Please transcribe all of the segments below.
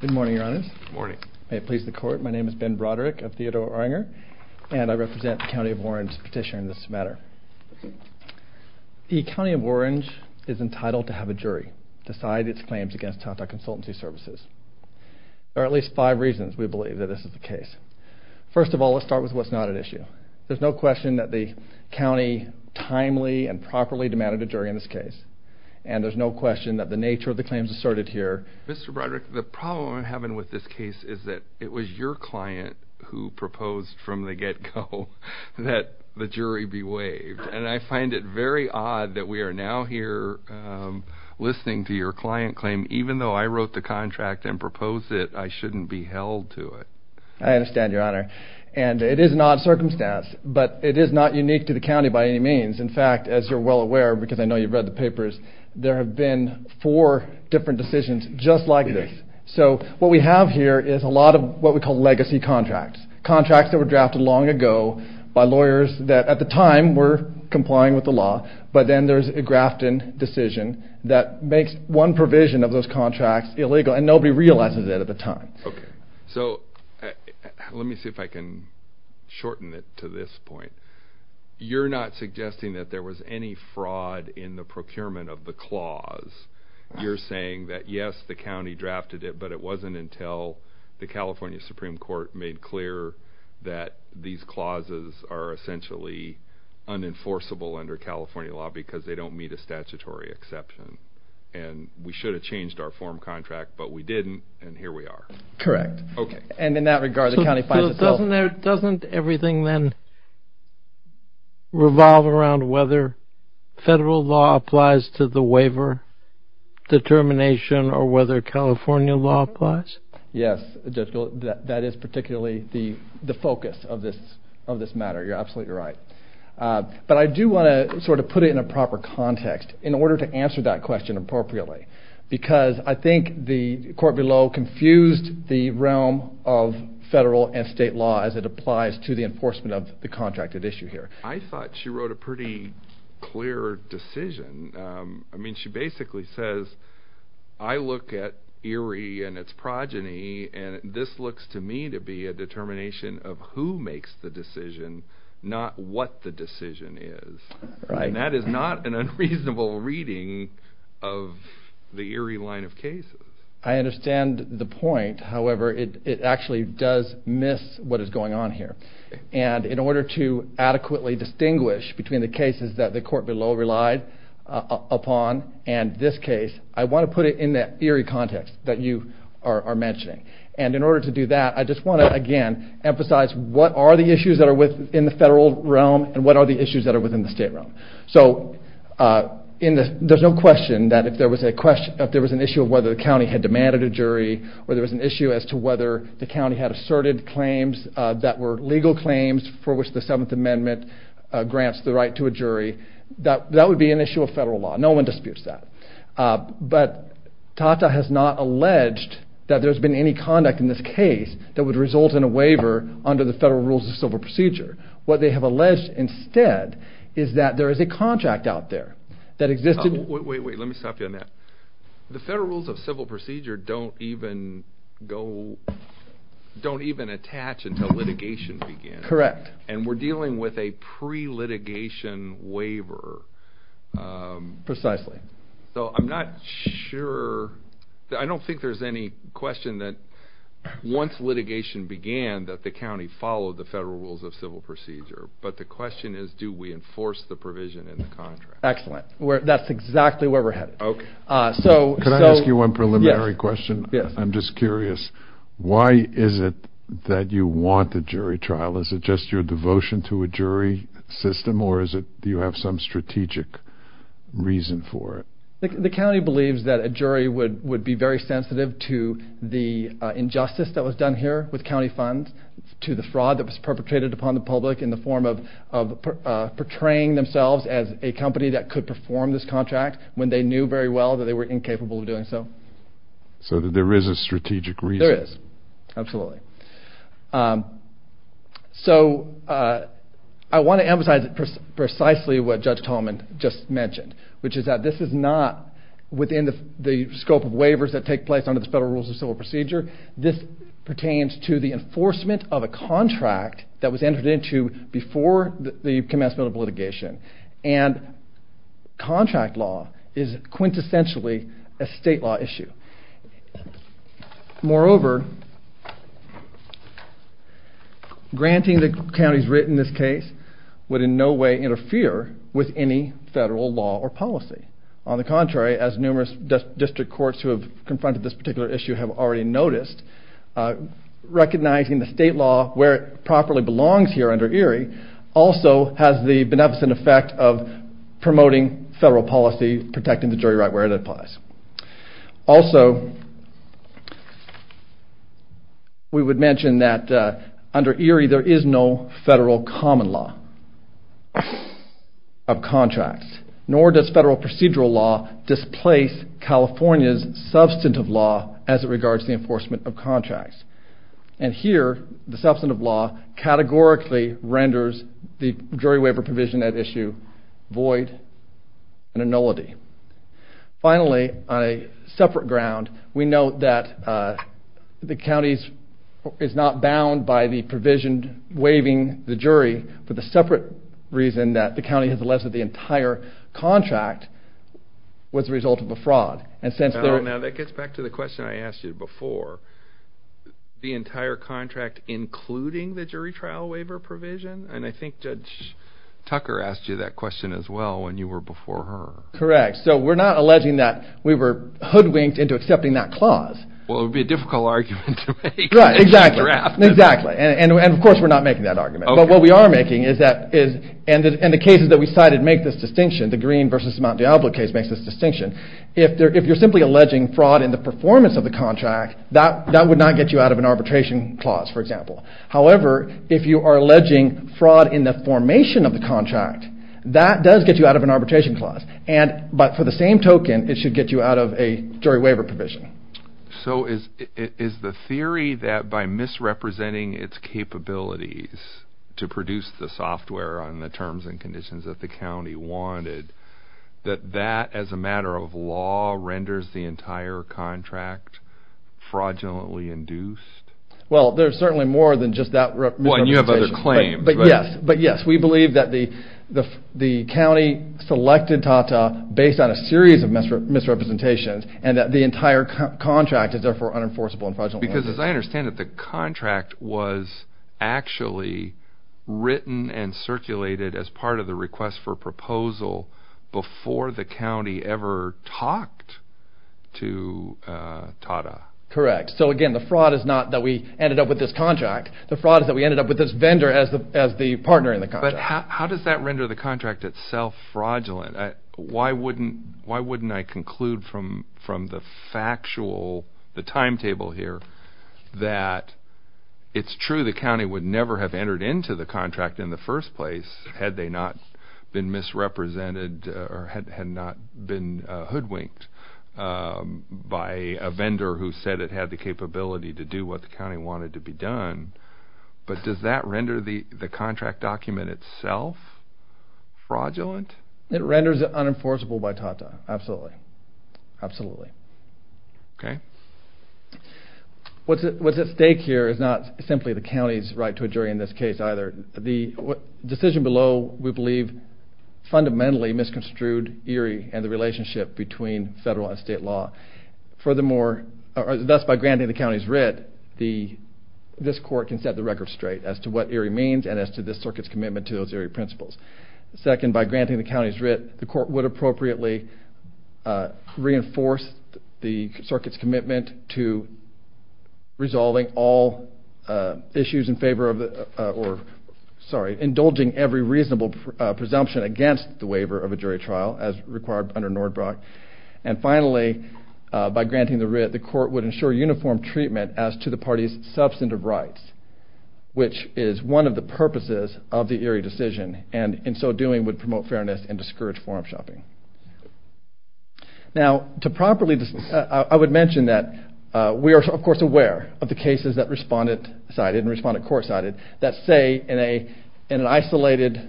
Good morning, your honors. Good morning. May it please the court, my name is Ben Broderick of Theodore Oringer, and I represent the County of Orange petitioning this matter. The County of Orange is entitled to have a jury decide its claims against Tata Consultancy Services. There are at least five reasons we believe that this is the case. First of all, let's start with what's not at issue. There's no question that the county timely and properly demanded a jury in this case. And there's no question that the nature of the claims asserted here... Mr. Broderick, the problem I'm having with this case is that it was your client who proposed from the get-go that the jury be waived. And I find it very odd that we are now here listening to your client claim. Even though I wrote the contract and proposed it, I shouldn't be held to it. I understand, your honor. And it is an odd circumstance, but it is not unique to the county by any means. In fact, as you're well aware, because I know you've read the papers, there have been four different decisions just like this. So what we have here is a lot of what we call legacy contracts. Contracts that were drafted long ago by lawyers that, at the time, were complying with the law. But then there's a Grafton decision that makes one provision of those contracts illegal, and nobody realizes it at the time. Okay. So let me see if I can shorten it to this point. You're not suggesting that there was any fraud in the procurement of the clause. You're saying that, yes, the county drafted it, but it wasn't until the California Supreme Court made clear that these clauses are essentially unenforceable under California law because they don't meet a statutory exception. And we should have changed our form contract, but we didn't, and here we are. Correct. Okay. And in that regard, the county finds itself... So doesn't everything then revolve around whether federal law applies to the waiver determination or whether California law applies? Yes, Judge Gold, that is particularly the focus of this matter. You're absolutely right. But I do want to sort of put it in a proper context in order to answer that question appropriately because I think the court below confused the realm of federal and state law as it applies to the enforcement of the contracted issue here. I thought she wrote a pretty clear decision. I mean, she basically says, I look at ERIE and its progeny, and this looks to me to be a determination of who makes the decision, not what the decision is. Right. And that is not an unreasonable reading of the ERIE line of cases. I understand the point. However, it actually does miss what is going on here. And in order to adequately distinguish between the cases that the court below relied upon and this case, I want to put it in that ERIE context that you are mentioning. And in order to do that, I just want to, again, emphasize what are the issues that are within the federal realm and what are the issues that are within the state realm. So there is no question that if there was an issue of whether the county had demanded a jury or there was an issue as to whether the county had asserted claims that were legal claims for which the 7th Amendment grants the right to a jury, that would be an issue of federal law. No one disputes that. But TATA has not alleged that there has been any conduct in this case that would result in a waiver under the federal rules of civil procedure. What they have alleged instead is that there is a contract out there that existed. Wait, wait, wait. Let me stop you on that. The federal rules of civil procedure don't even go – don't even attach until litigation begins. Correct. And we're dealing with a pre-litigation waiver. Precisely. So I'm not sure – I don't think there's any question that once litigation began that the county followed the federal rules of civil procedure. But the question is, do we enforce the provision in the contract? Excellent. That's exactly where we're headed. Okay. Can I ask you one preliminary question? Yes. I'm just curious. Why is it that you want the jury trial? Is it just your devotion to a jury system, or do you have some strategic reason for it? The county believes that a jury would be very sensitive to the injustice that was done here with county funds, to the fraud that was perpetrated upon the public in the form of portraying themselves as a company that could perform this contract when they knew very well that they were incapable of doing so. So there is a strategic reason? There is. Absolutely. So I want to emphasize precisely what Judge Tolman just mentioned, which is that this is not within the scope of waivers that take place under the federal rules of civil procedure. This pertains to the enforcement of a contract that was entered into before the commencement of litigation. And contract law is quintessentially a state law issue. Moreover, granting the counties written this case would in no way interfere with any federal law or policy. On the contrary, as numerous district courts who have confronted this particular issue have already noticed, recognizing the state law where it properly belongs here under ERIE also has the beneficent effect of promoting federal policy, protecting the jury right where it applies. Also, we would mention that under ERIE there is no federal common law of contracts, nor does federal procedural law displace California's substantive law as it regards the enforcement of contracts. And here, the substantive law categorically renders the jury waiver provision at issue void and a nullity. Finally, on a separate ground, we note that the county is not bound by the provision waiving the jury for the separate reason that the county has alleged that the entire contract was the result of a fraud. Now that gets back to the question I asked you before. The entire contract including the jury trial waiver provision? And I think Judge Tucker asked you that question as well when you were before her. Correct. So we're not alleging that we were hoodwinked into accepting that clause. Well, it would be a difficult argument to make. Exactly. And of course we're not making that argument. But what we are making is that, and the cases that we cited make this distinction, the Green v. Mount Diablo case makes this distinction, if you're simply alleging fraud in the performance of the contract, that would not get you out of an arbitration clause, for example. However, if you are alleging fraud in the formation of the contract, that does get you out of an arbitration clause. But for the same token, it should get you out of a jury waiver provision. So is the theory that by misrepresenting its capabilities to produce the software on the terms and conditions that the county wanted, that that as a matter of law renders the entire contract fraudulently induced? Well, there's certainly more than just that misrepresentation. Well, and you have other claims. But yes, we believe that the county selected TATA based on a series of misrepresentations, and that the entire contract is therefore unenforceable and fraudulently induced. Because as I understand it, the contract was actually written and circulated as part of the request for proposal before the county ever talked to TATA. Correct. So again, the fraud is not that we ended up with this contract. The fraud is that we ended up with this vendor as the partner in the contract. But how does that render the contract itself fraudulent? Why wouldn't I conclude from the factual, the timetable here, that it's true the county would never have entered into the contract in the first place had they not been misrepresented or had not been hoodwinked by a vendor who said it had the capability to do what the county wanted to be done? But does that render the contract document itself fraudulent? It renders it unenforceable by TATA. Absolutely. Absolutely. Okay. What's at stake here is not simply the county's right to a jury in this case either. The decision below, we believe, fundamentally misconstrued ERIE and the relationship between federal and state law. Thus, by granting the county's writ, this court can set the record straight as to what ERIE means and as to this circuit's commitment to those ERIE principles. Second, by granting the county's writ, the court would appropriately reinforce the circuit's commitment to resolving all issues in favor of the or indulging every reasonable presumption against the waiver of a jury trial as required under Nordbrock. And finally, by granting the writ, the court would ensure uniform treatment as to the party's substantive rights, which is one of the purposes of the ERIE decision and in so doing would promote fairness and discourage form-shopping. Now, I would mention that we are, of course, aware of the cases that respondent-sided and respondent-court-sided that say in an isolated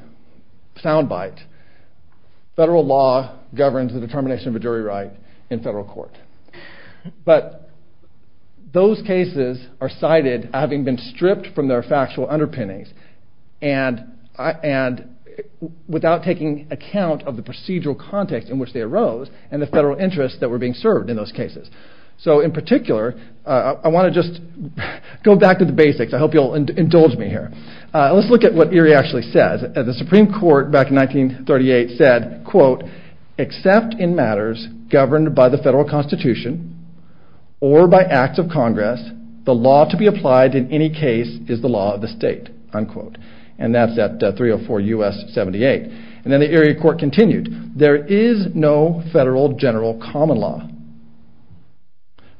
soundbite, federal law governs the determination of a jury right in federal court. But those cases are cited having been stripped from their factual underpinnings and without taking account of the procedural context in which they arose and the federal interests that were being served in those cases. So, in particular, I want to just go back to the basics. I hope you'll indulge me here. Let's look at what ERIE actually says. The Supreme Court back in 1938 said, quote, except in matters governed by the federal constitution or by acts of Congress, the law to be applied in any case is the law of the state, unquote. And that's at 304 U.S. 78. And then the ERIE court continued. There is no federal general common law.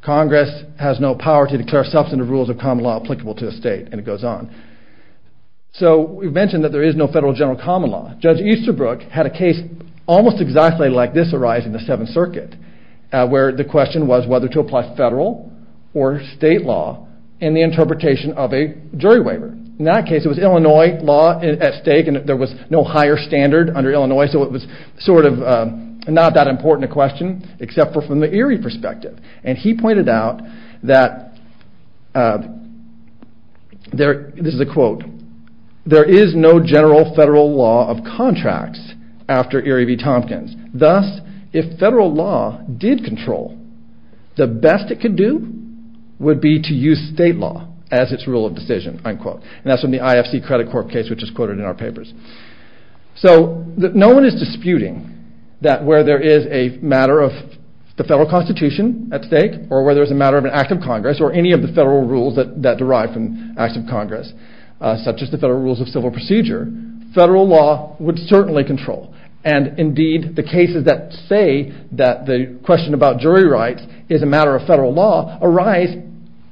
Congress has no power to declare substantive rules of common law applicable to a state, and it goes on. So we've mentioned that there is no federal general common law. Judge Easterbrook had a case almost exactly like this arise in the Seventh Circuit where the question was whether to apply federal or state law in the interpretation of a jury waiver. In that case, it was Illinois law at stake and there was no higher standard under Illinois, so it was sort of not that important a question except for from the ERIE perspective. And he pointed out that, this is a quote, there is no general federal law of contracts after ERIE v. Tompkins. Thus, if federal law did control, the best it could do would be to use state law as its rule of decision, unquote. And that's from the IFC credit court case which is quoted in our papers. So no one is disputing that where there is a matter of the federal constitution at stake or whether it's a matter of an act of Congress or any of the federal rules that derive from acts of Congress such as the federal rules of civil procedure, federal law would certainly control. And indeed, the cases that say that the question about jury rights is a matter of federal law arise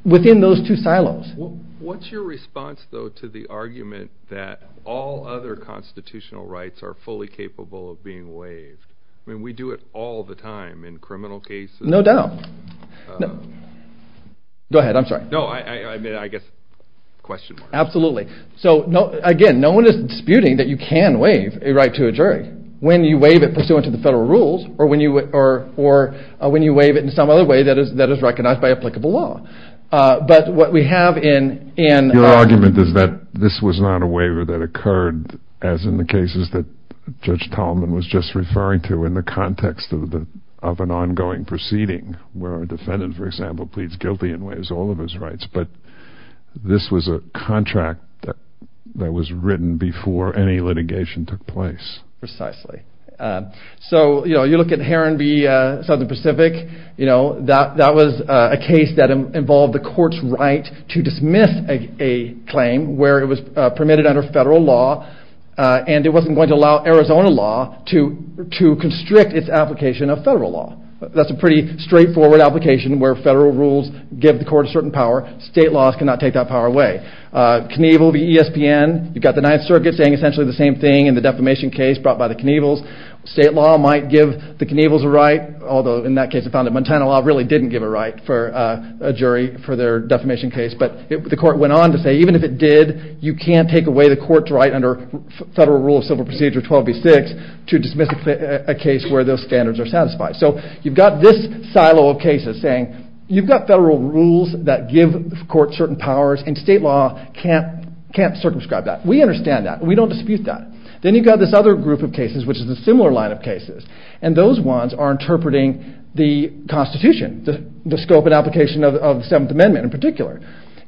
within those two silos. What's your response though to the argument that all other constitutional rights are fully capable of being waived? I mean, we do it all the time in criminal cases. No doubt. Go ahead, I'm sorry. No, I guess question mark. Absolutely. So again, no one is disputing that you can waive a right to a jury when you waive it pursuant to the federal rules or when you waive it in some other way that is recognized by applicable law. But what we have in... Your argument is that this was not a waiver that occurred as in the cases that Judge Tolman was just referring to were in the context of an ongoing proceeding where a defendant, for example, pleads guilty and waives all of his rights. But this was a contract that was written before any litigation took place. Precisely. So you look at Heron v. Southern Pacific. That was a case that involved the court's right to dismiss a claim where it was permitted under federal law and it wasn't going to allow Arizona law to constrict its application of federal law. That's a pretty straightforward application where federal rules give the court a certain power. State laws cannot take that power away. Knievel v. ESPN. You've got the Ninth Circuit saying essentially the same thing in the defamation case brought by the Knievels. State law might give the Knievels a right, although in that case the Montana law really didn't give a right for a jury for their defamation case. But the court went on to say even if it did, you can't take away the court's right under Federal Rule of Civil Procedure 12b-6 to dismiss a case where those standards are satisfied. So you've got this silo of cases saying you've got federal rules that give the court certain powers and state law can't circumscribe that. We understand that. We don't dispute that. Then you've got this other group of cases which is a similar line of cases and those ones are interpreting the Constitution, the scope and application of the Seventh Amendment in particular.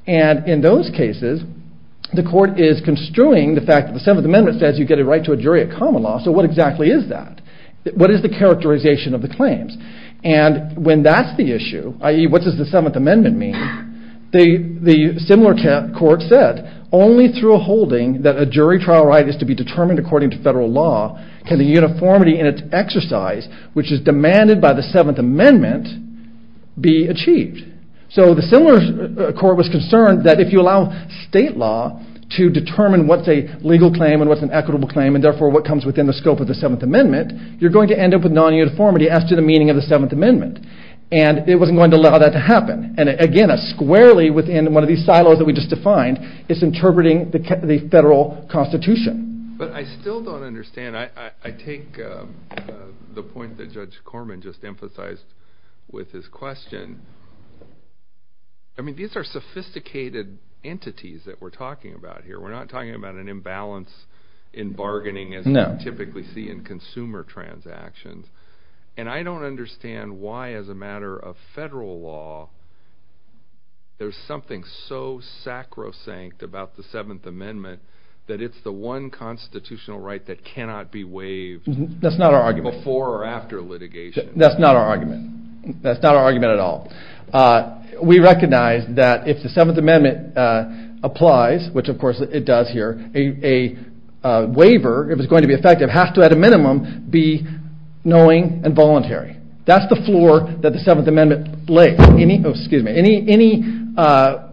And in those cases the court is construing the fact that the Seventh Amendment says you get a right to a jury at common law. So what exactly is that? What is the characterization of the claims? And when that's the issue, i.e. what does the Seventh Amendment mean, the similar court said only through a holding that a jury trial right is to be determined according to federal law can the uniformity in its exercise, which is demanded by the Seventh Amendment, be achieved. So the similar court was concerned that if you allow state law to determine what's a legal claim and what's an equitable claim and therefore what comes within the scope of the Seventh Amendment, you're going to end up with non-uniformity as to the meaning of the Seventh Amendment. And it wasn't going to allow that to happen. And again, squarely within one of these silos that we just defined, it's interpreting the federal Constitution. But I still don't understand. I take the point that Judge Corman just emphasized with his question I mean these are sophisticated entities that we're talking about here. We're not talking about an imbalance in bargaining as we typically see in consumer transactions. And I don't understand why as a matter of federal law there's something so sacrosanct about the Seventh Amendment that it's the one constitutional right that cannot be waived before or after litigation. That's not our argument. That's not our argument at all. We recognize that if the Seventh Amendment applies, which of course it does here, a waiver, if it's going to be effective, has to at a minimum be knowing and voluntary. That's the floor that the Seventh Amendment lays. Any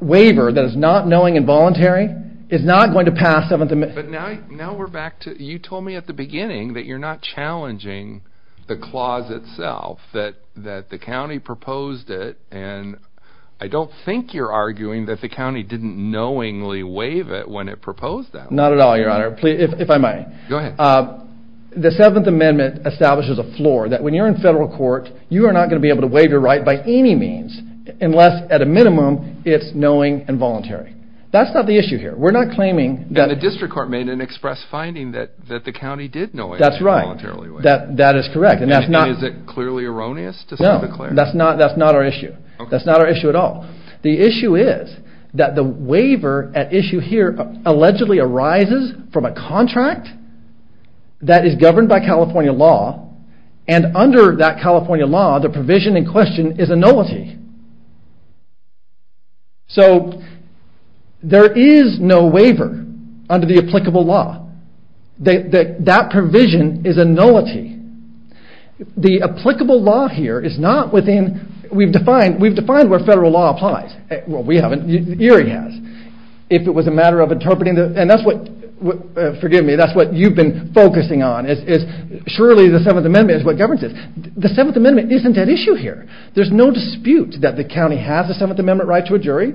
waiver that is not knowing and voluntary is not going to pass Seventh Amendment. But now we're back to, you told me at the beginning that you're not challenging the clause itself, that the county proposed it, and I don't think you're arguing that the county didn't knowingly waive it when it proposed that one. Not at all, Your Honor, if I may. Go ahead. The Seventh Amendment establishes a floor that when you're in federal court, you are not going to be able to waive your right by any means unless at a minimum it's knowing and voluntary. That's not the issue here. We're not claiming that... But the district court made an express finding that the county did knowingly and voluntarily waive it. That is correct. And is it clearly erroneous to say the clear? No, that's not our issue. That's not our issue at all. The issue is that the waiver at issue here allegedly arises from a contract that is governed by California law, and under that California law, the provision in question is a nullity. So there is no waiver under the applicable law. That provision is a nullity. The applicable law here is not within... We've defined where federal law applies. Well, we haven't. ERIE has. If it was a matter of interpreting... And that's what, forgive me, that's what you've been focusing on is surely the Seventh Amendment is what governs it. The Seventh Amendment isn't at issue here. There's no dispute that the county has a Seventh Amendment right to a jury,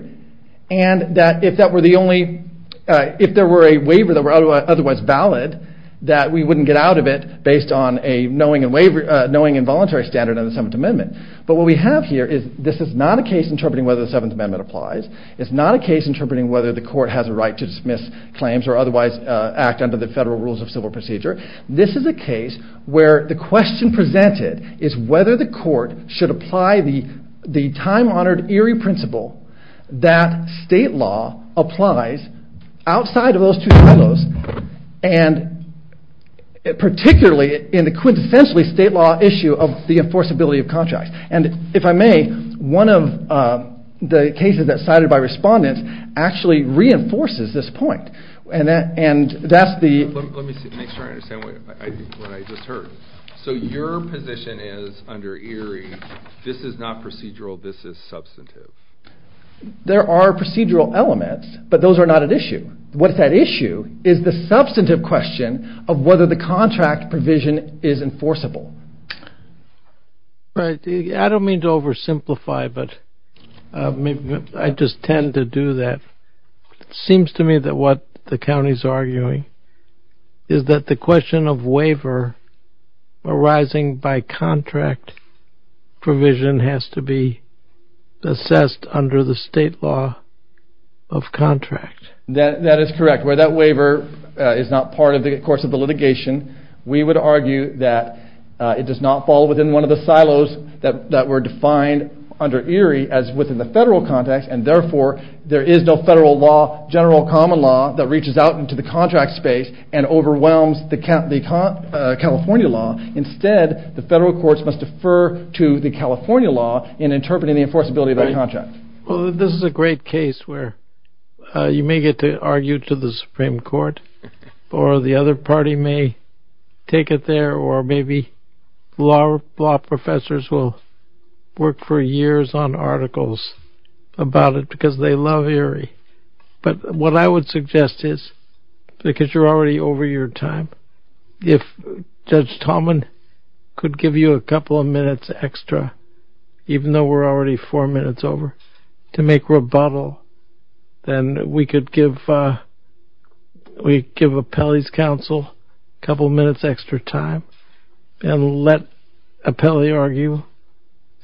and that if that were the only... If there were a waiver that were otherwise valid, that we wouldn't get out of it based on a knowingly and voluntarily standard of the Seventh Amendment. But what we have here is this is not a case interpreting whether the Seventh Amendment applies. It's not a case interpreting whether the court has a right to dismiss claims or otherwise act under the federal rules of civil procedure. This is a case where the question presented is whether the court should apply the time-honored ERIE principle that state law applies outside of those two silos, and particularly in the quintessentially state law issue of the enforceability of contracts. And if I may, one of the cases that's cited by respondents actually reinforces this point. And that's the... Let me make sure I understand what I just heard. So your position is, under ERIE, this is not procedural, this is substantive. There are procedural elements, but those are not at issue. What's at issue is the substantive question of whether the contract provision is enforceable. Right. I don't mean to oversimplify, but I just tend to do that. It seems to me that what the county's arguing is that the question of waiver arising by contract provision has to be assessed under the state law of contract. That is correct. Where that waiver is not part of the course of the litigation, we would argue that it does not fall within one of the silos that were defined under ERIE as within the federal context, and therefore there is no federal law, general common law, that reaches out into the contract space and overwhelms the California law. Instead, the federal courts must defer to the California law in interpreting the enforceability of that contract. Well, this is a great case where you may get to argue to the Supreme Court, or the other party may take it there, or maybe law professors will work for years on articles about it because they love ERIE. But what I would suggest is, because you're already over your time, if Judge Tallman could give you a couple of minutes extra, even though we're already four minutes over, to make rebuttal, then we could give Apelli's counsel a couple of minutes extra time and let Apelli argue,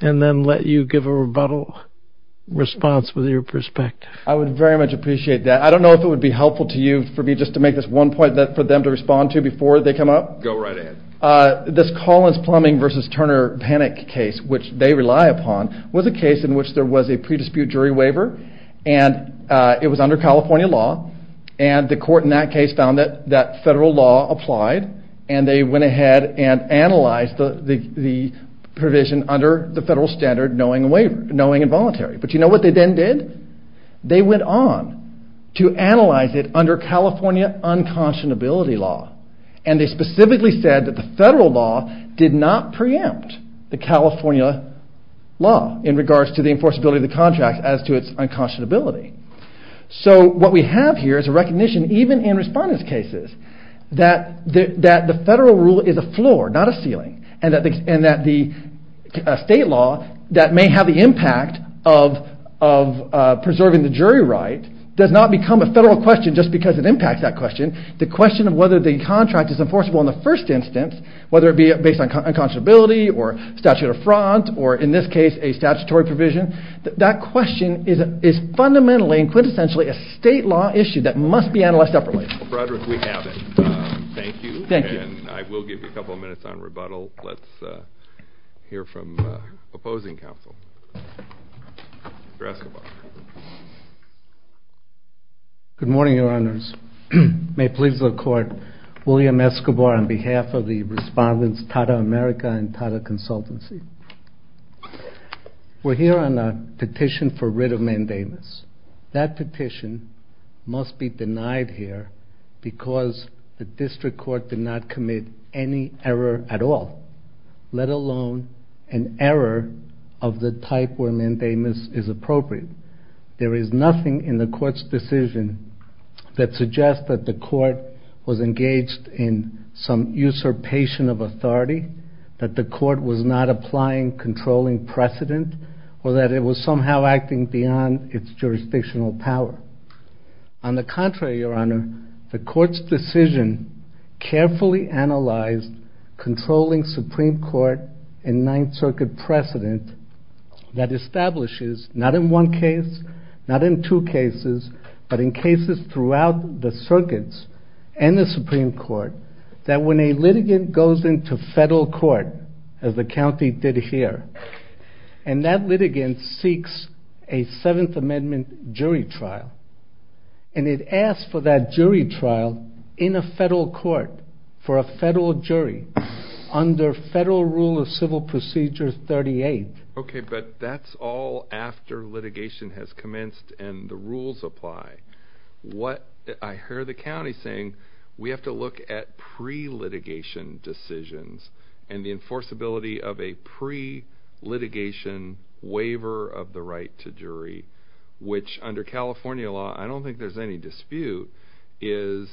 and then let you give a rebuttal response with your perspective. I would very much appreciate that. I don't know if it would be helpful to you for me just to make this one point for them to respond to before they come up. Go right ahead. This Collins-Plumbing v. Turner panic case, which they rely upon, was a case in which there was a pre-dispute jury waiver, and it was under California law, and the court in that case found that that federal law applied, and they went ahead and analyzed the provision under the federal standard knowing involuntary. But you know what they then did? They went on to analyze it under California unconscionability law, and they specifically said that the federal law did not preempt the California law in regards to the enforceability of the contract as to its unconscionability. So what we have here is a recognition, even in respondents' cases, that the federal rule is a floor, not a ceiling, and that the state law that may have the impact of preserving the jury right does not become a federal question just because it impacts that question. The question of whether the contract is enforceable in the first instance, whether it be based on unconscionability or statute of fraud, or in this case a statutory provision, that question is fundamentally and quintessentially a state law issue that must be analyzed separately. Well, Frederick, we have it. Thank you. Thank you. And I will give you a couple of minutes on rebuttal. Let's hear from opposing counsel. Mr. Escobar. Good morning, Your Honors. May it please the Court, William Escobar on behalf of the respondents Tata America and Tata Consultancy. We're here on a petition for writ of mandamus. That petition must be denied here because the district court did not commit any error at all, let alone an error of the type where mandamus is appropriate. There is nothing in the court's decision that suggests that the court was engaged in some usurpation of authority, that the court was not applying controlling precedent, or that it was somehow acting beyond its jurisdictional power. On the contrary, Your Honor, the court's decision carefully analyzed controlling Supreme Court and Ninth Circuit precedent that establishes, not in one case, not in two cases, but in cases throughout the circuits and the Supreme Court, that when a litigant goes into federal court, as the county did here, and that litigant seeks a Seventh Amendment jury trial, and it asks for that jury trial in a federal court, for a federal jury, under Federal Rule of Civil Procedure 38. Okay, but that's all after litigation has commenced and the rules apply. What I hear the county saying, we have to look at pre-litigation decisions and the enforceability of a pre-litigation waiver of the right to jury, which, under California law, I don't think there's any dispute, is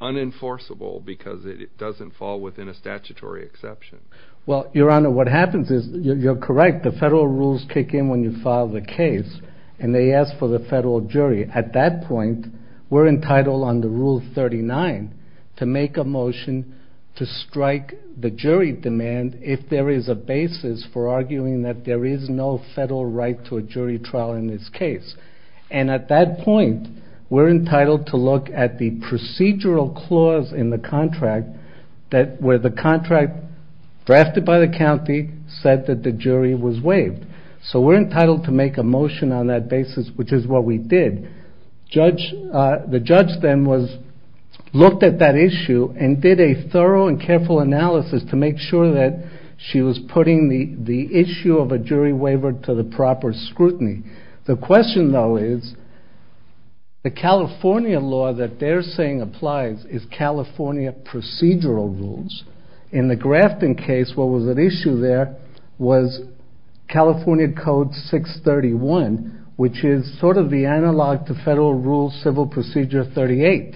unenforceable because it doesn't fall within a statutory exception. Well, Your Honor, what happens is, you're correct, the federal rules kick in when you file the case, and they ask for the federal jury. At that point, we're entitled under Rule 39 to make a motion to strike the jury demand if there is a basis for arguing that there is no federal right to a jury trial in this case. And at that point, we're entitled to look at the procedural clause in the contract where the contract drafted by the county said that the jury was waived. So we're entitled to make a motion on that basis, which is what we did. The judge then looked at that issue and did a thorough and careful analysis to make sure that she was putting the issue of a jury waiver to the proper scrutiny. The question, though, is, the California law that they're saying applies is California procedural rules. In the Grafton case, what was at issue there was California Code 631, which is sort of the analog to Federal Rule Civil Procedure 38.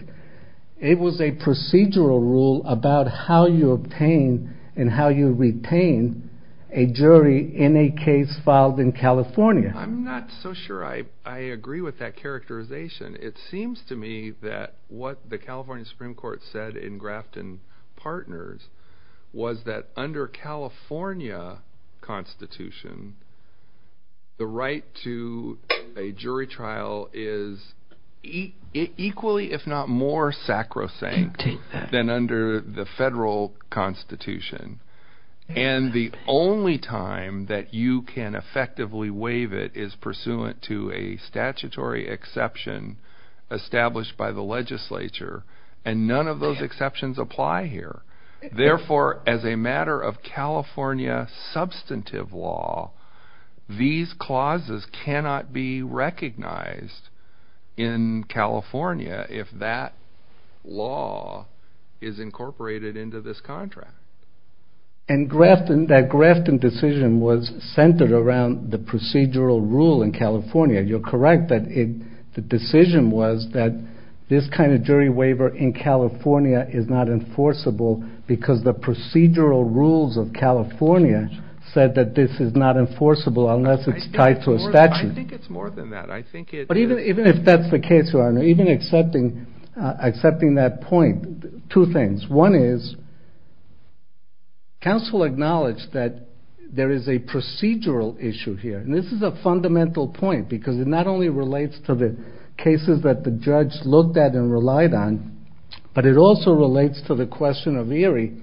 It was a procedural rule about how you obtain and how you retain a jury in a case filed in California. I'm not so sure I agree with that characterization. It seems to me that what the California Supreme Court said in Grafton Partners was that under California Constitution, the right to a jury trial is equally, if not more, sacrosanct than under the Federal Constitution. And the only time that you can effectively waive it is pursuant to a statutory exception established by the legislature, and none of those exceptions apply here. Therefore, as a matter of California substantive law, these clauses cannot be recognized in California if that law is incorporated into this contract. And that Grafton decision was centered around the procedural rule in California. You're correct that the decision was that this kind of jury waiver in California is not enforceable because the procedural rules of California said that this is not enforceable unless it's tied to a statute. I think it's more than that. But even if that's the case, Your Honor, even accepting that point, two things. One is, counsel acknowledged that there is a procedural issue here, and this is a fundamental point because it not only relates to the cases that the judge looked at and relied on, but it also relates to the question of Erie.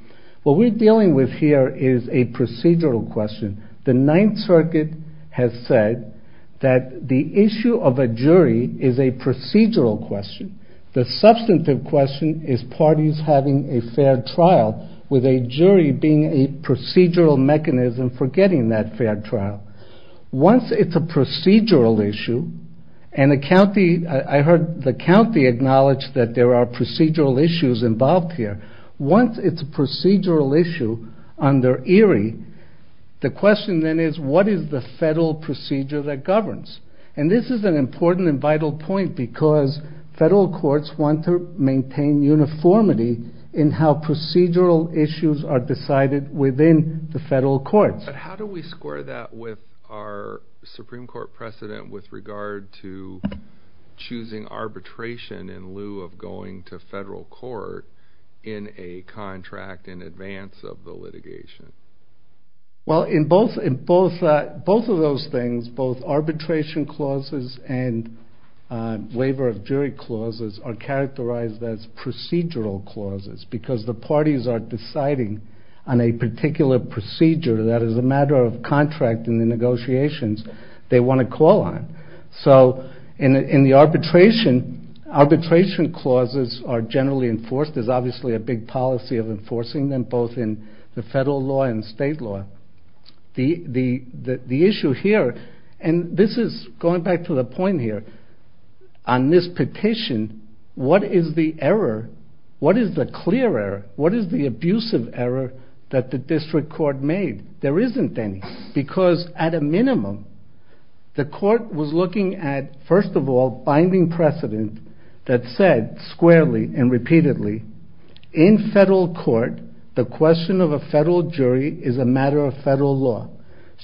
What we're dealing with here is a procedural question. The Ninth Circuit has said that the issue of a jury is a procedural question. The substantive question is parties having a fair trial with a jury being a procedural mechanism for getting that fair trial. Once it's a procedural issue, and the county, I heard the county acknowledge that there are procedural issues involved here. Once it's a procedural issue under Erie, the question then is, what is the federal procedure that governs? And this is an important and vital point because federal courts want to maintain uniformity in how procedural issues are decided within the federal courts. But how do we score that with our Supreme Court precedent with regard to choosing arbitration in lieu of going to federal court in a contract in advance of the litigation? Well, in both of those things, both arbitration clauses and waiver of jury clauses are characterized as procedural clauses because the parties are deciding on a particular procedure that is a matter of contract in the negotiations they want to call on. So in the arbitration, arbitration clauses are generally enforced. There's obviously a big policy of enforcing them both in the federal law and state law. The issue here, and this is going back to the point here, on this petition, what is the error? What is the clear error? What is the abusive error that the district court made? There isn't any because at a minimum, the court was looking at, first of all, binding precedent that said squarely and repeatedly, in federal court, the question of a federal jury is a matter of federal law.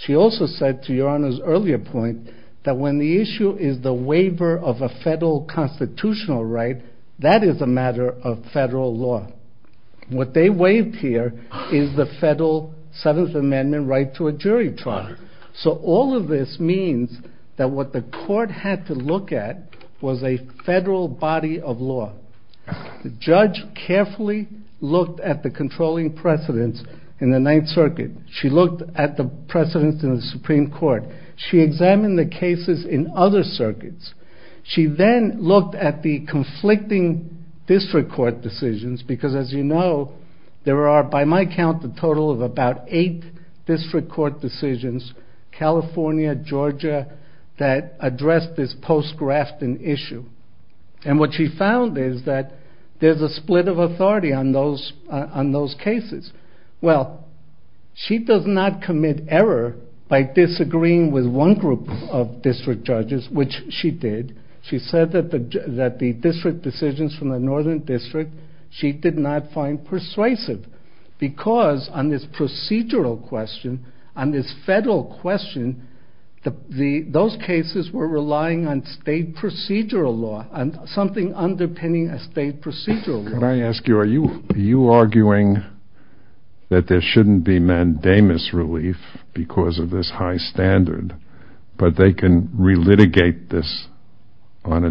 She also said, to Your Honor's earlier point, that when the issue is the waiver of a federal constitutional right, that is a matter of federal law. What they waived here is the federal Seventh Amendment right to a jury trial. So all of this means that what the court had to look at was a federal body of law. The judge carefully looked at the controlling precedents in the Ninth Circuit. She looked at the precedents in the Supreme Court. She examined the cases in other circuits. She then looked at the conflicting district court decisions because, as you know, there are, by my count, a total of about eight district court decisions, California, Georgia, that address this post-Grafton issue. And what she found is that there's a split of authority on those cases. Well, she does not commit error by disagreeing with one group of district judges, which she did. She said that the district decisions from the Northern District she did not find persuasive because, on this procedural question, on this federal question, those cases were relying on state procedural law, something underpinning a state procedural law. Can I ask you, are you arguing that there shouldn't be mandamus relief because of this high standard, but they can re-litigate this on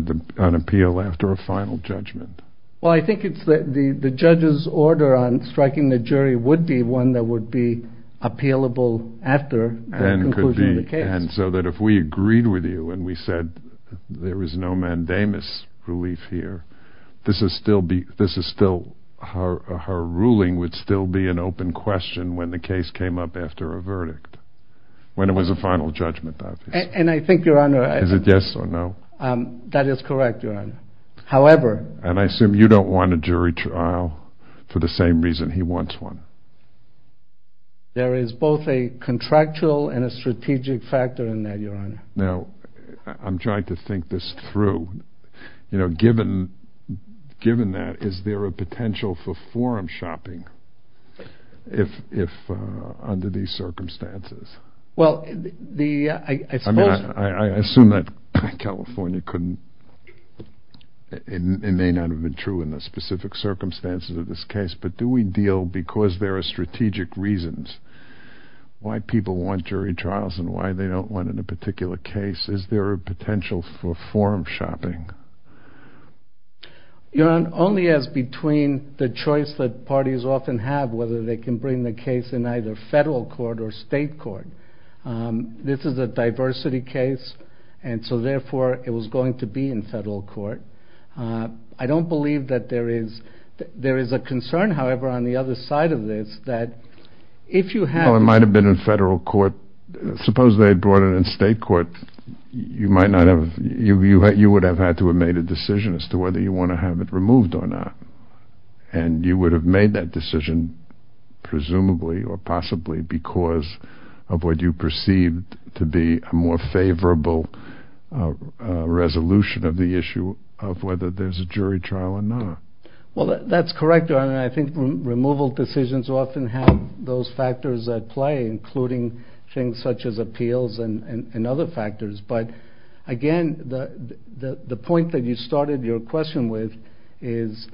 appeal after a final judgment? Well, I think the judge's order on striking the jury would be one that would be appealable after the conclusion of the case. And so that if we agreed with you and we said there is no mandamus relief here, this is still... her ruling would still be an open question when the case came up after a verdict, when it was a final judgment, obviously. Is it yes or no? That is correct, Your Honor. However... And I assume you don't want a jury trial for the same reason he wants one. There is both a contractual and a strategic factor in that, Your Honor. Now, I'm trying to think this through. You know, given that, is there a potential for forum shopping under these circumstances? Well, I suppose... I assume that California couldn't... it may not have been true in the specific circumstances of this case, but do we deal, because there are strategic reasons why people want jury trials and why they don't want it in a particular case, is there a potential for forum shopping? Your Honor, only as between the choice that parties often have, whether they can bring the case in either federal court or state court. This is a diversity case, and so, therefore, it was going to be in federal court. I don't believe that there is... There is a concern, however, on the other side of this, that if you had... Well, it might have been in federal court. Suppose they had brought it in state court. You might not have... You would have had to have made a decision as to whether you want to have it removed or not. And you would have made that decision, presumably or possibly, because of what you perceived to be a more favorable resolution of the issue of whether there's a jury trial or not. Well, that's correct, Your Honor. I think removal decisions often have those factors at play, including things such as appeals and other factors. But, again, the point that you started your question with is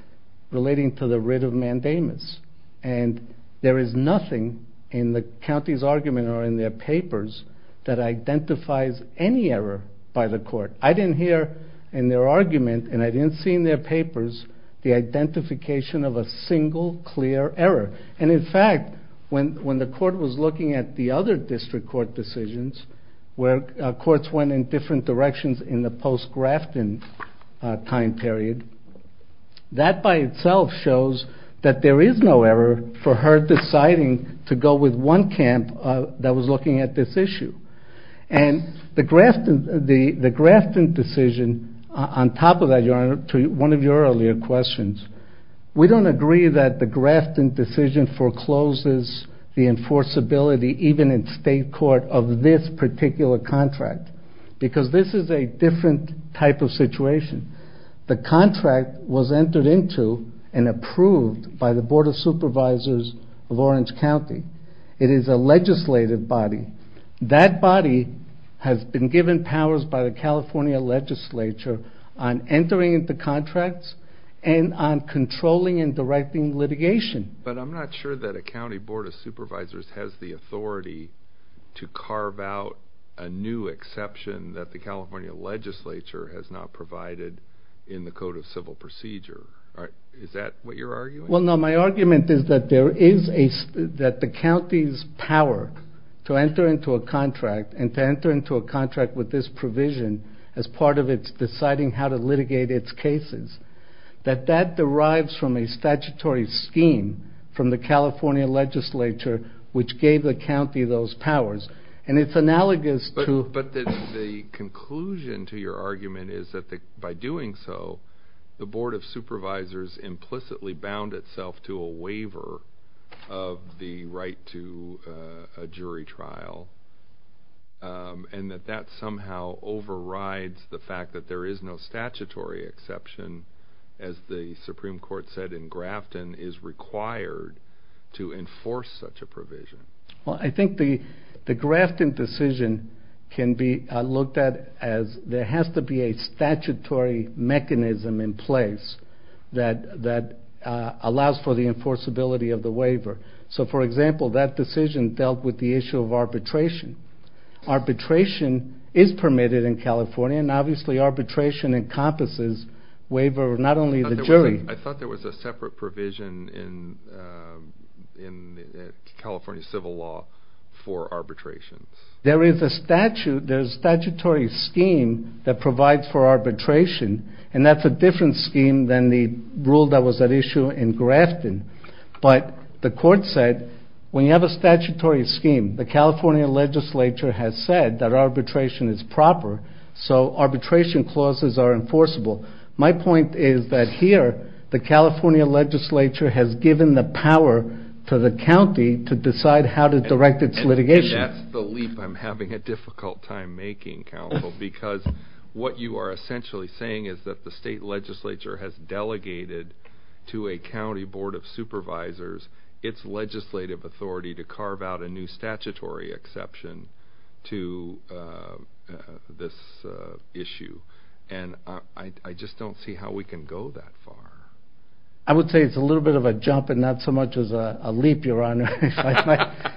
relating to the writ of mandamus. And there is nothing in the county's argument or in their papers that identifies any error by the court. I didn't hear in their argument, and I didn't see in their papers, the identification of a single clear error. And, in fact, when the court was looking at the other district court decisions where courts went in different directions in the post-Grafton time period, that by itself shows that there is no error for her deciding to go with one camp that was looking at this issue. And the Grafton decision, on top of that, Your Honor, to one of your earlier questions, we don't agree that the Grafton decision forecloses the enforceability, even in state court, of this particular contract. Because this is a different type of situation. The contract was entered into and approved by the Board of Supervisors of Orange County. It is a legislative body. That body has been given powers by the California legislature on entering into contracts and on controlling and directing litigation. But I'm not sure that a county board of supervisors has the authority to carve out a new exception that the California legislature has not provided in the Code of Civil Procedure. Is that what you're arguing? Well, no. My argument is that the county's power to enter into a contract and to enter into a contract with this provision as part of its deciding how to litigate its cases, that that derives from a statutory scheme from the California legislature which gave the county those powers. And it's analogous to... But the conclusion to your argument is that by doing so, the Board of Supervisors implicitly bound itself to a waiver of the right to a jury trial, and that that somehow overrides the fact that there is no statutory exception, as the Supreme Court said in Grafton, is required to enforce such a provision. Well, I think the Grafton decision can be looked at as there has to be a statutory mechanism in place that allows for the enforceability of the waiver. So, for example, that decision dealt with the issue of arbitration. Arbitration is permitted in California, and obviously arbitration encompasses waiver of not only the jury... I thought there was a separate provision in California civil law for arbitration. There is a statutory scheme that provides for arbitration, and that's a different scheme than the rule that was at issue in Grafton. But the court said, when you have a statutory scheme, the California legislature has said that arbitration is proper, so arbitration clauses are enforceable. My point is that here, the California legislature has given the power to the county to decide how to direct its litigation. And that's the leap I'm having a difficult time making, Counsel, because what you are essentially saying is that the state legislature has delegated to a county board of supervisors its legislative authority to carve out a new statutory exception to this issue. And I just don't see how we can go that far. I would say it's a little bit of a jump and not so much as a leap, Your Honor. How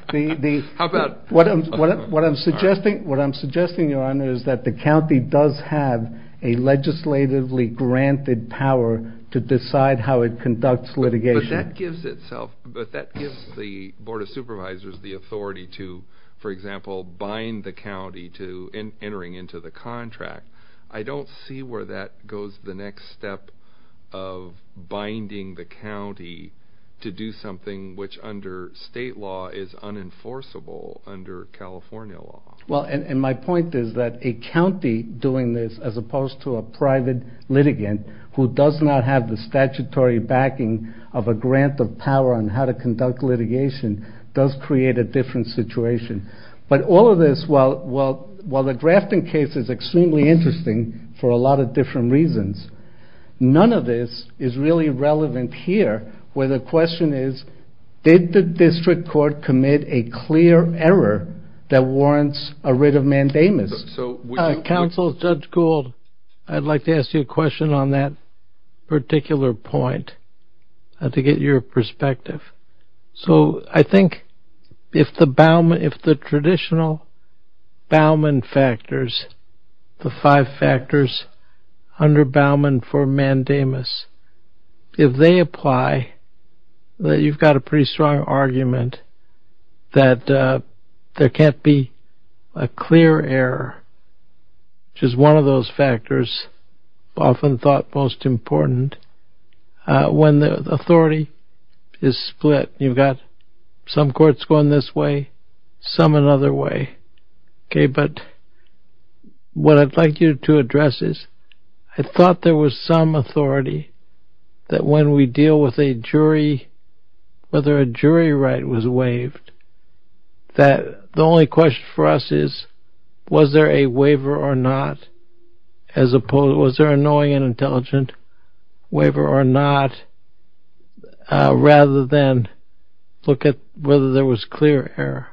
about... What I'm suggesting, Your Honor, is that the county does have a legislatively granted power to decide how it conducts litigation. But that gives the board of supervisors the authority to, for example, bind the county to entering into the contract. I don't see where that goes to the next step of binding the county to do something which, under state law, is unenforceable under California law. Well, and my point is that a county doing this as opposed to a private litigant who does not have the statutory backing of a grant of power on how to conduct litigation does create a different situation. But all of this, while the Grafton case is extremely interesting for a lot of different reasons, none of this is really relevant here where the question is, did the district court commit a clear error that warrants a writ of mandamus? Counsel, Judge Gould, I'd like to ask you a question on that particular point to get your perspective. So I think if the traditional Bauman factors, the five factors under Bauman for mandamus, if they apply, then you've got a pretty strong argument that there can't be a clear error, which is one of those factors often thought most important when the authority is split. You've got some courts going this way, some another way. But what I'd like you to address is I thought there was some authority that when we deal with a jury, whether a jury right was waived, that the only question for us is was there a waiver or not as opposed to, was there a knowing and intelligent waiver or not rather than look at whether there was clear error?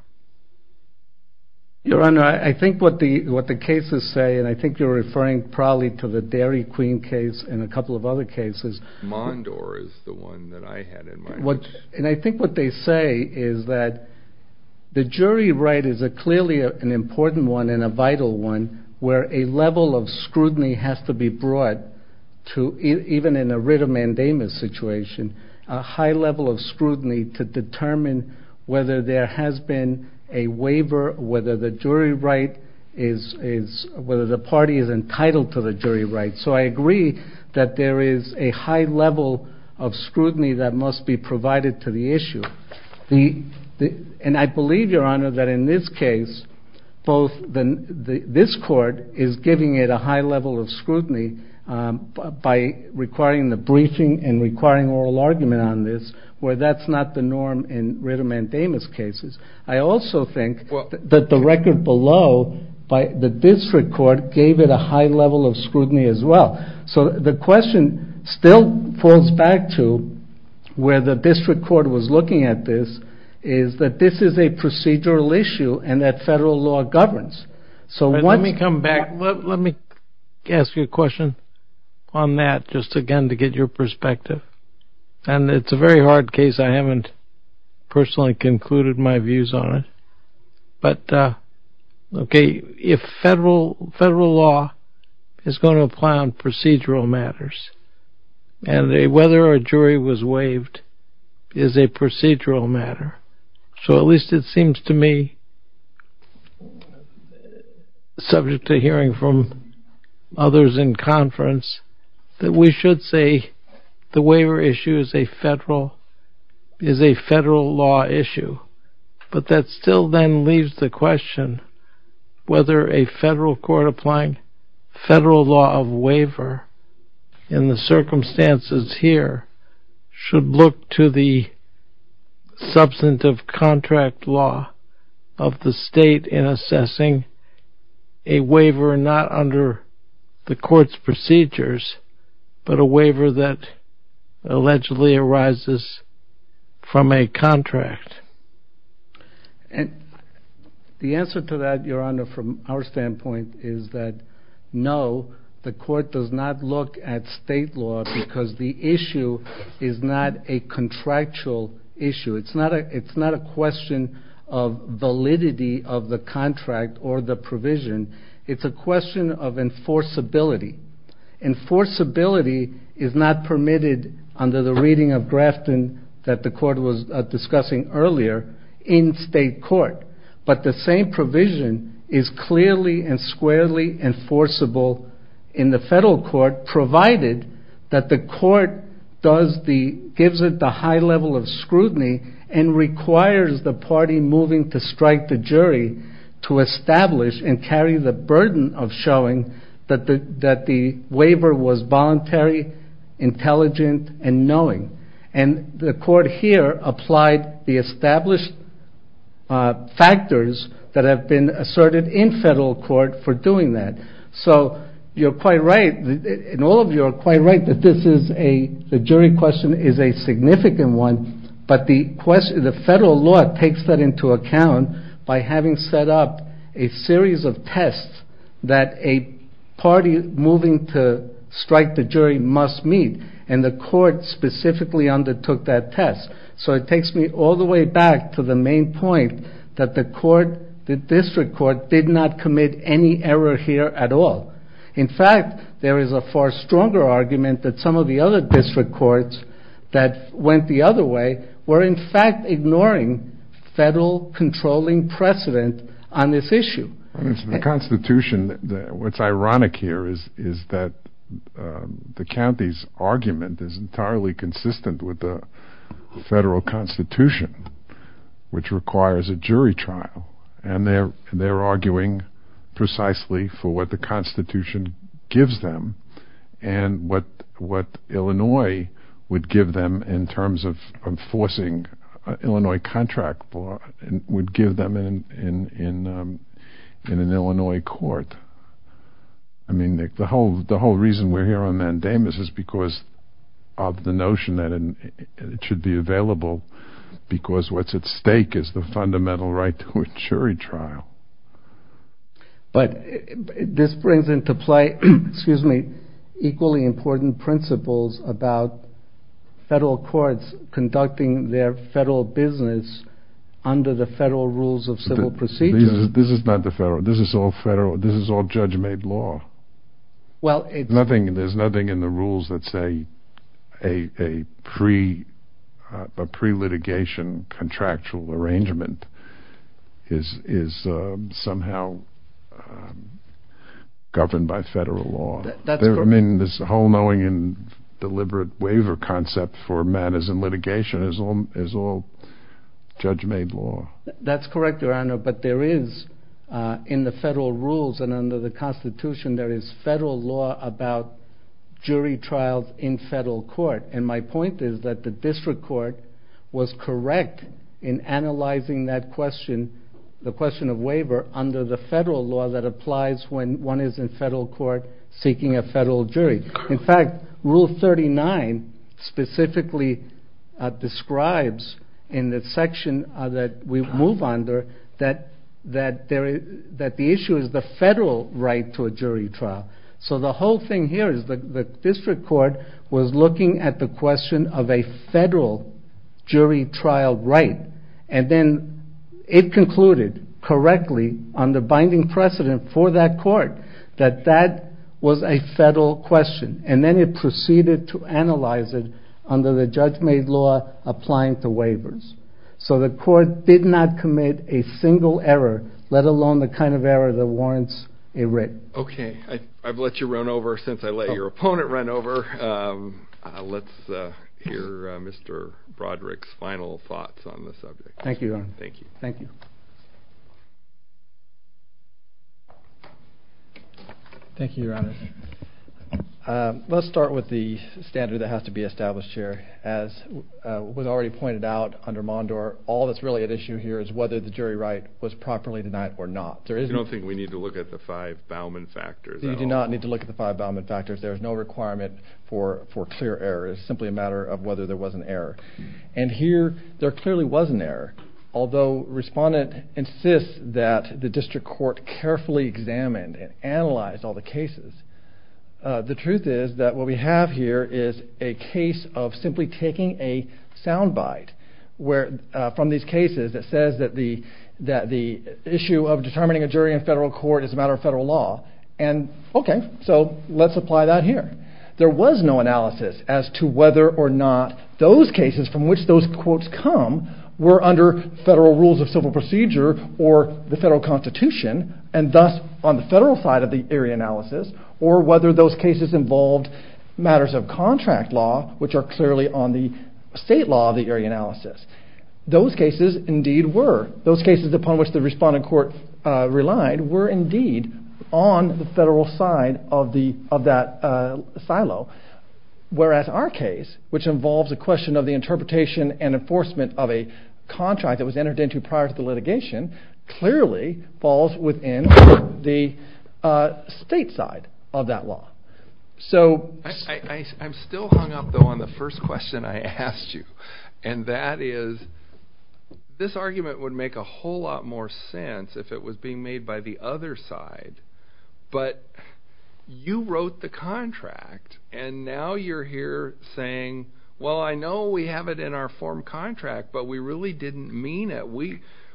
Your Honor, I think what the cases say, and I think you're referring probably to the Dairy Queen case and a couple of other cases. Mondore is the one that I had in mind. And I think what they say is that the jury right is clearly an important one and a vital one where a level of scrutiny has to be brought even in a writ of mandamus situation, a high level of scrutiny to determine whether there has been a waiver, whether the party is entitled to the jury right. So I agree that there is a high level of scrutiny that must be provided to the issue. And I believe, Your Honor, this court is giving it a high level of scrutiny by requiring the briefing and requiring oral argument on this where that's not the norm in writ of mandamus cases. I also think that the record below, the district court gave it a high level of scrutiny as well. So the question still falls back to where the district court was looking at this is that this is a procedural issue and that federal law governs. Let me come back. Let me ask you a question on that just again to get your perspective. And it's a very hard case. I haven't personally concluded my views on it. If federal law is going to apply on procedural matters and whether a jury was waived is a procedural matter, so at least it seems to me, subject to hearing from others in conference, that we should say the waiver issue is a federal law issue. But that still then leaves the question whether a federal court applying federal law of waiver in the circumstances here should look to the substantive contract law of the state in assessing a waiver not under the court's procedures, but a waiver that allegedly arises from a contract. And the answer to that, Your Honor, from our standpoint is that no, the court does not look at state law because the issue is not a contractual issue. It's not a question of validity of the contract or the provision. It's a question of enforceability. Enforceability is not permitted under the reading of Grafton that the court was discussing earlier in state court. But the same provision is clearly and squarely enforceable in the federal court provided that the court gives it the high level of scrutiny and requires the party moving to strike the jury to establish and carry the burden of showing that the waiver was voluntary, intelligent, and knowing. And the court here applied the established factors that have been asserted in federal court for doing that. So you're quite right and all of you are quite right that the jury question is a significant one, but the federal law takes that into account by having set up a series of tests that a party moving to strike the jury must meet and the court specifically undertook that test. So it takes me all the way back to the main point that the district court did not commit any error here at all. In fact, there is a far stronger argument that some of the other district courts that went the other way were in fact ignoring federal controlling precedent on this issue. It's the Constitution. What's ironic here is that the county's argument is entirely consistent with the federal Constitution which requires a jury trial and they're arguing precisely for what the Constitution gives them and what Illinois would give them in terms of enforcing an Illinois contract would give them in an Illinois court. I mean the whole reason we're here on mandamus is because of the notion that it should be available because what's at stake is the fundamental right to a jury trial. But this brings into play equally important principles about federal courts conducting their federal business under the federal rules of civil procedure. This is not the federal. This is all federal. This is all judge-made law. There's nothing in the rules that say a pre-litigation contractual arrangement is somehow governed by federal law. I mean this whole knowing and deliberate waiver concept for matters in litigation is all judge-made law. That's correct, Your Honor, but there is in the federal rules and under the Constitution there is federal law about jury trials in federal court and my point is that the district court was correct in analyzing that question, the question of waiver under the federal law that applies when one is in federal court seeking a federal jury. In fact, Rule 39 specifically describes in the section that we move under that the issue is the federal right to a jury trial. So the whole thing here is the district court was looking at the question of a federal jury trial right and then it concluded correctly on the binding precedent for that court that that was a federal question and then it proceeded to analyze it under the judge-made law applying to waivers. So the court did not commit a single error let alone the kind of error that warrants a writ. Okay, I've let you run over since I let your opponent run over. Let's hear Mr. Broderick's final thoughts on the subject. Thank you, Your Honor. Thank you. Thank you, Your Honor. Let's start with the standard that has to be established here. As was already pointed out under Mondor, all that's really at issue here is whether the jury right was properly denied or not. I don't think we need to look at the five Bauman factors. You do not need to look at the five Bauman factors. There's no requirement for clear error. It's simply a matter of whether there was an error. And here there clearly was an error. Although respondent insists that the district court carefully examined and analyzed all the cases, the truth is that what we have here is a case of simply taking a sound bite from these cases that says that the issue of determining a jury in federal court is a matter of federal law. Okay, so let's apply that here. There was no analysis as to whether or not those cases from which those quotes come were under federal rules of civil procedure or the federal constitution and thus on the federal side of the area analysis or whether those cases involved matters of contract law which are clearly on the state law of the area analysis. Those cases indeed were. Those cases upon which the respondent court relied were indeed on the federal side of that silo. Whereas our case, which involves a question of the interpretation and enforcement of a contract that was entered into prior to the litigation, clearly falls within the state side of that law. So... I'm still hung up though on the first question I asked you and that is this argument would make a whole lot more sense if it was being made by the other side. But you wrote the contract and now you're here saying, well I know we have it in our form contract but we really didn't mean it.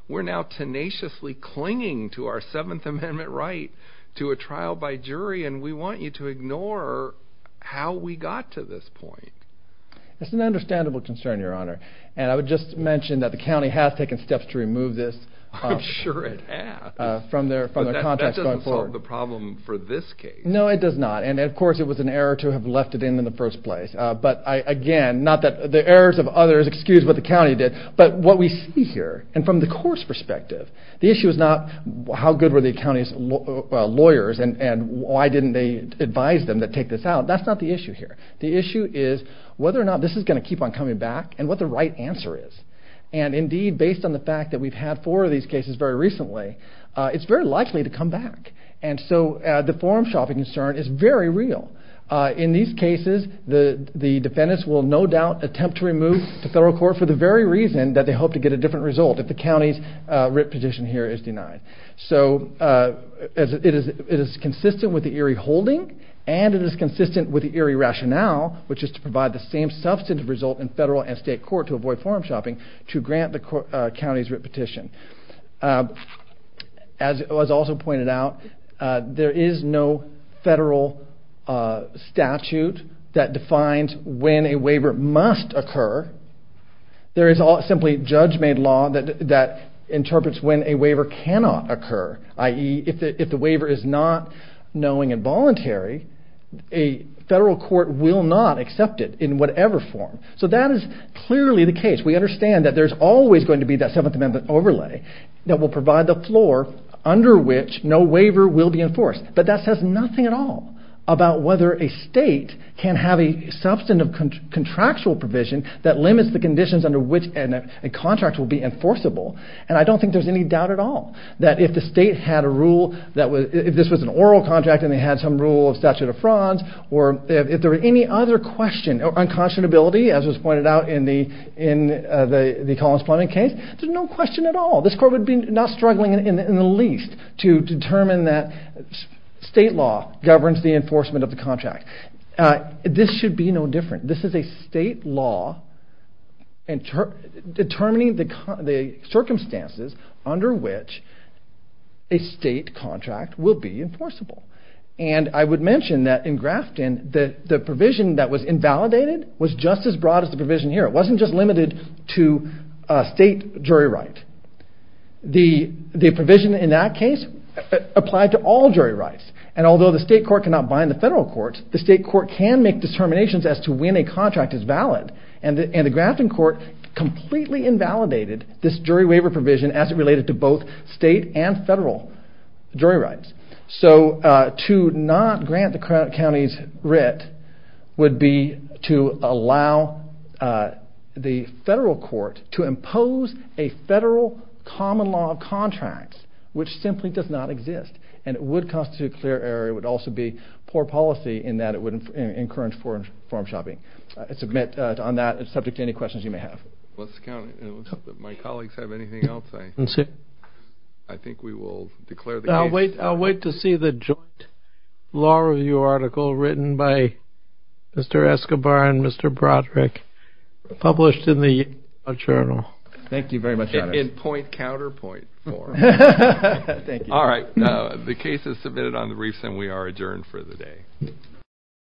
We're now tenaciously clinging to our 7th Amendment right to a trial by jury and we want you to ignore how we got to this point. It's an understandable concern, Your Honor. And I would just mention that the county has taken steps to remove this from their contracts going forward. I'm sure it has. But that doesn't solve the problem for this case. No, it does not. And of course it was an error to have left it in in the first place. But again, not that the errors of others excuse what the county did but what we see here and from the court's perspective, the issue is not how good were the county's lawyers and why didn't they advise them to take this out. That's not the issue here. The issue is whether or not this is going to keep on coming back and what the right answer is. And indeed, based on the fact that we've had four of these cases very recently, it's very likely to come back. And so the forum shopping concern is very real. In these cases, the defendants will no doubt attempt to remove this case to federal court for the very reason that they hope to get a different result if the county's writ petition here is denied. So it is consistent with the Erie holding and it is consistent with the Erie rationale, which is to provide the same substantive result in federal and state court to avoid forum shopping to grant the county's writ petition. As was also pointed out, there is no federal statute that defines when a waiver must occur. There is simply judge-made law that interprets when a waiver cannot occur, i.e. if the waiver is not knowing and voluntary, a federal court will not accept it in whatever form. So that is clearly the case. We understand that there's always going to be that 7th Amendment overlay that will provide the floor under which no waiver will be enforced. But that says nothing at all about whether a state can have a substantive contractual provision that limits the conditions under which a contract will be enforceable. And I don't think there's any doubt at all that if the state had a rule, if this was an oral contract and they had some rule of statute of frauds, or if there were any other question, or unconscionability, as was pointed out in the Collins-Pluman case, there's no question at all. This court would be not struggling in the least to determine that state law governs the enforcement of the contract. This should be no different. This is a state law determining the circumstances under which a state contract will be enforceable. And I would mention that in Grafton, the provision that was invalidated was just as broad as the provision here. It wasn't just limited to state jury right. The provision in that case applied to all jury rights. And although the state court cannot bind the federal court, the state court can make determinations as to when a contract is valid. And the Grafton court completely invalidated this jury waiver provision as it related to both state and federal jury rights. So to not grant the counties writ would be to allow the federal court to impose a federal common law of contracts, which simply does not exist. And it would constitute clear error. It would also be poor policy in that it would encourage form shopping. Submit on that subject to any questions you may have. Let's count it. It looks like my colleagues have anything else. I think we will declare the case. I'll wait to see the joint law review article written by Mr. Escobar and Mr. Broderick published in the Yale Law Journal. Thank you very much. In point counterpoint form. Thank you. All right. The case is submitted on the briefs, and we are adjourned for the day.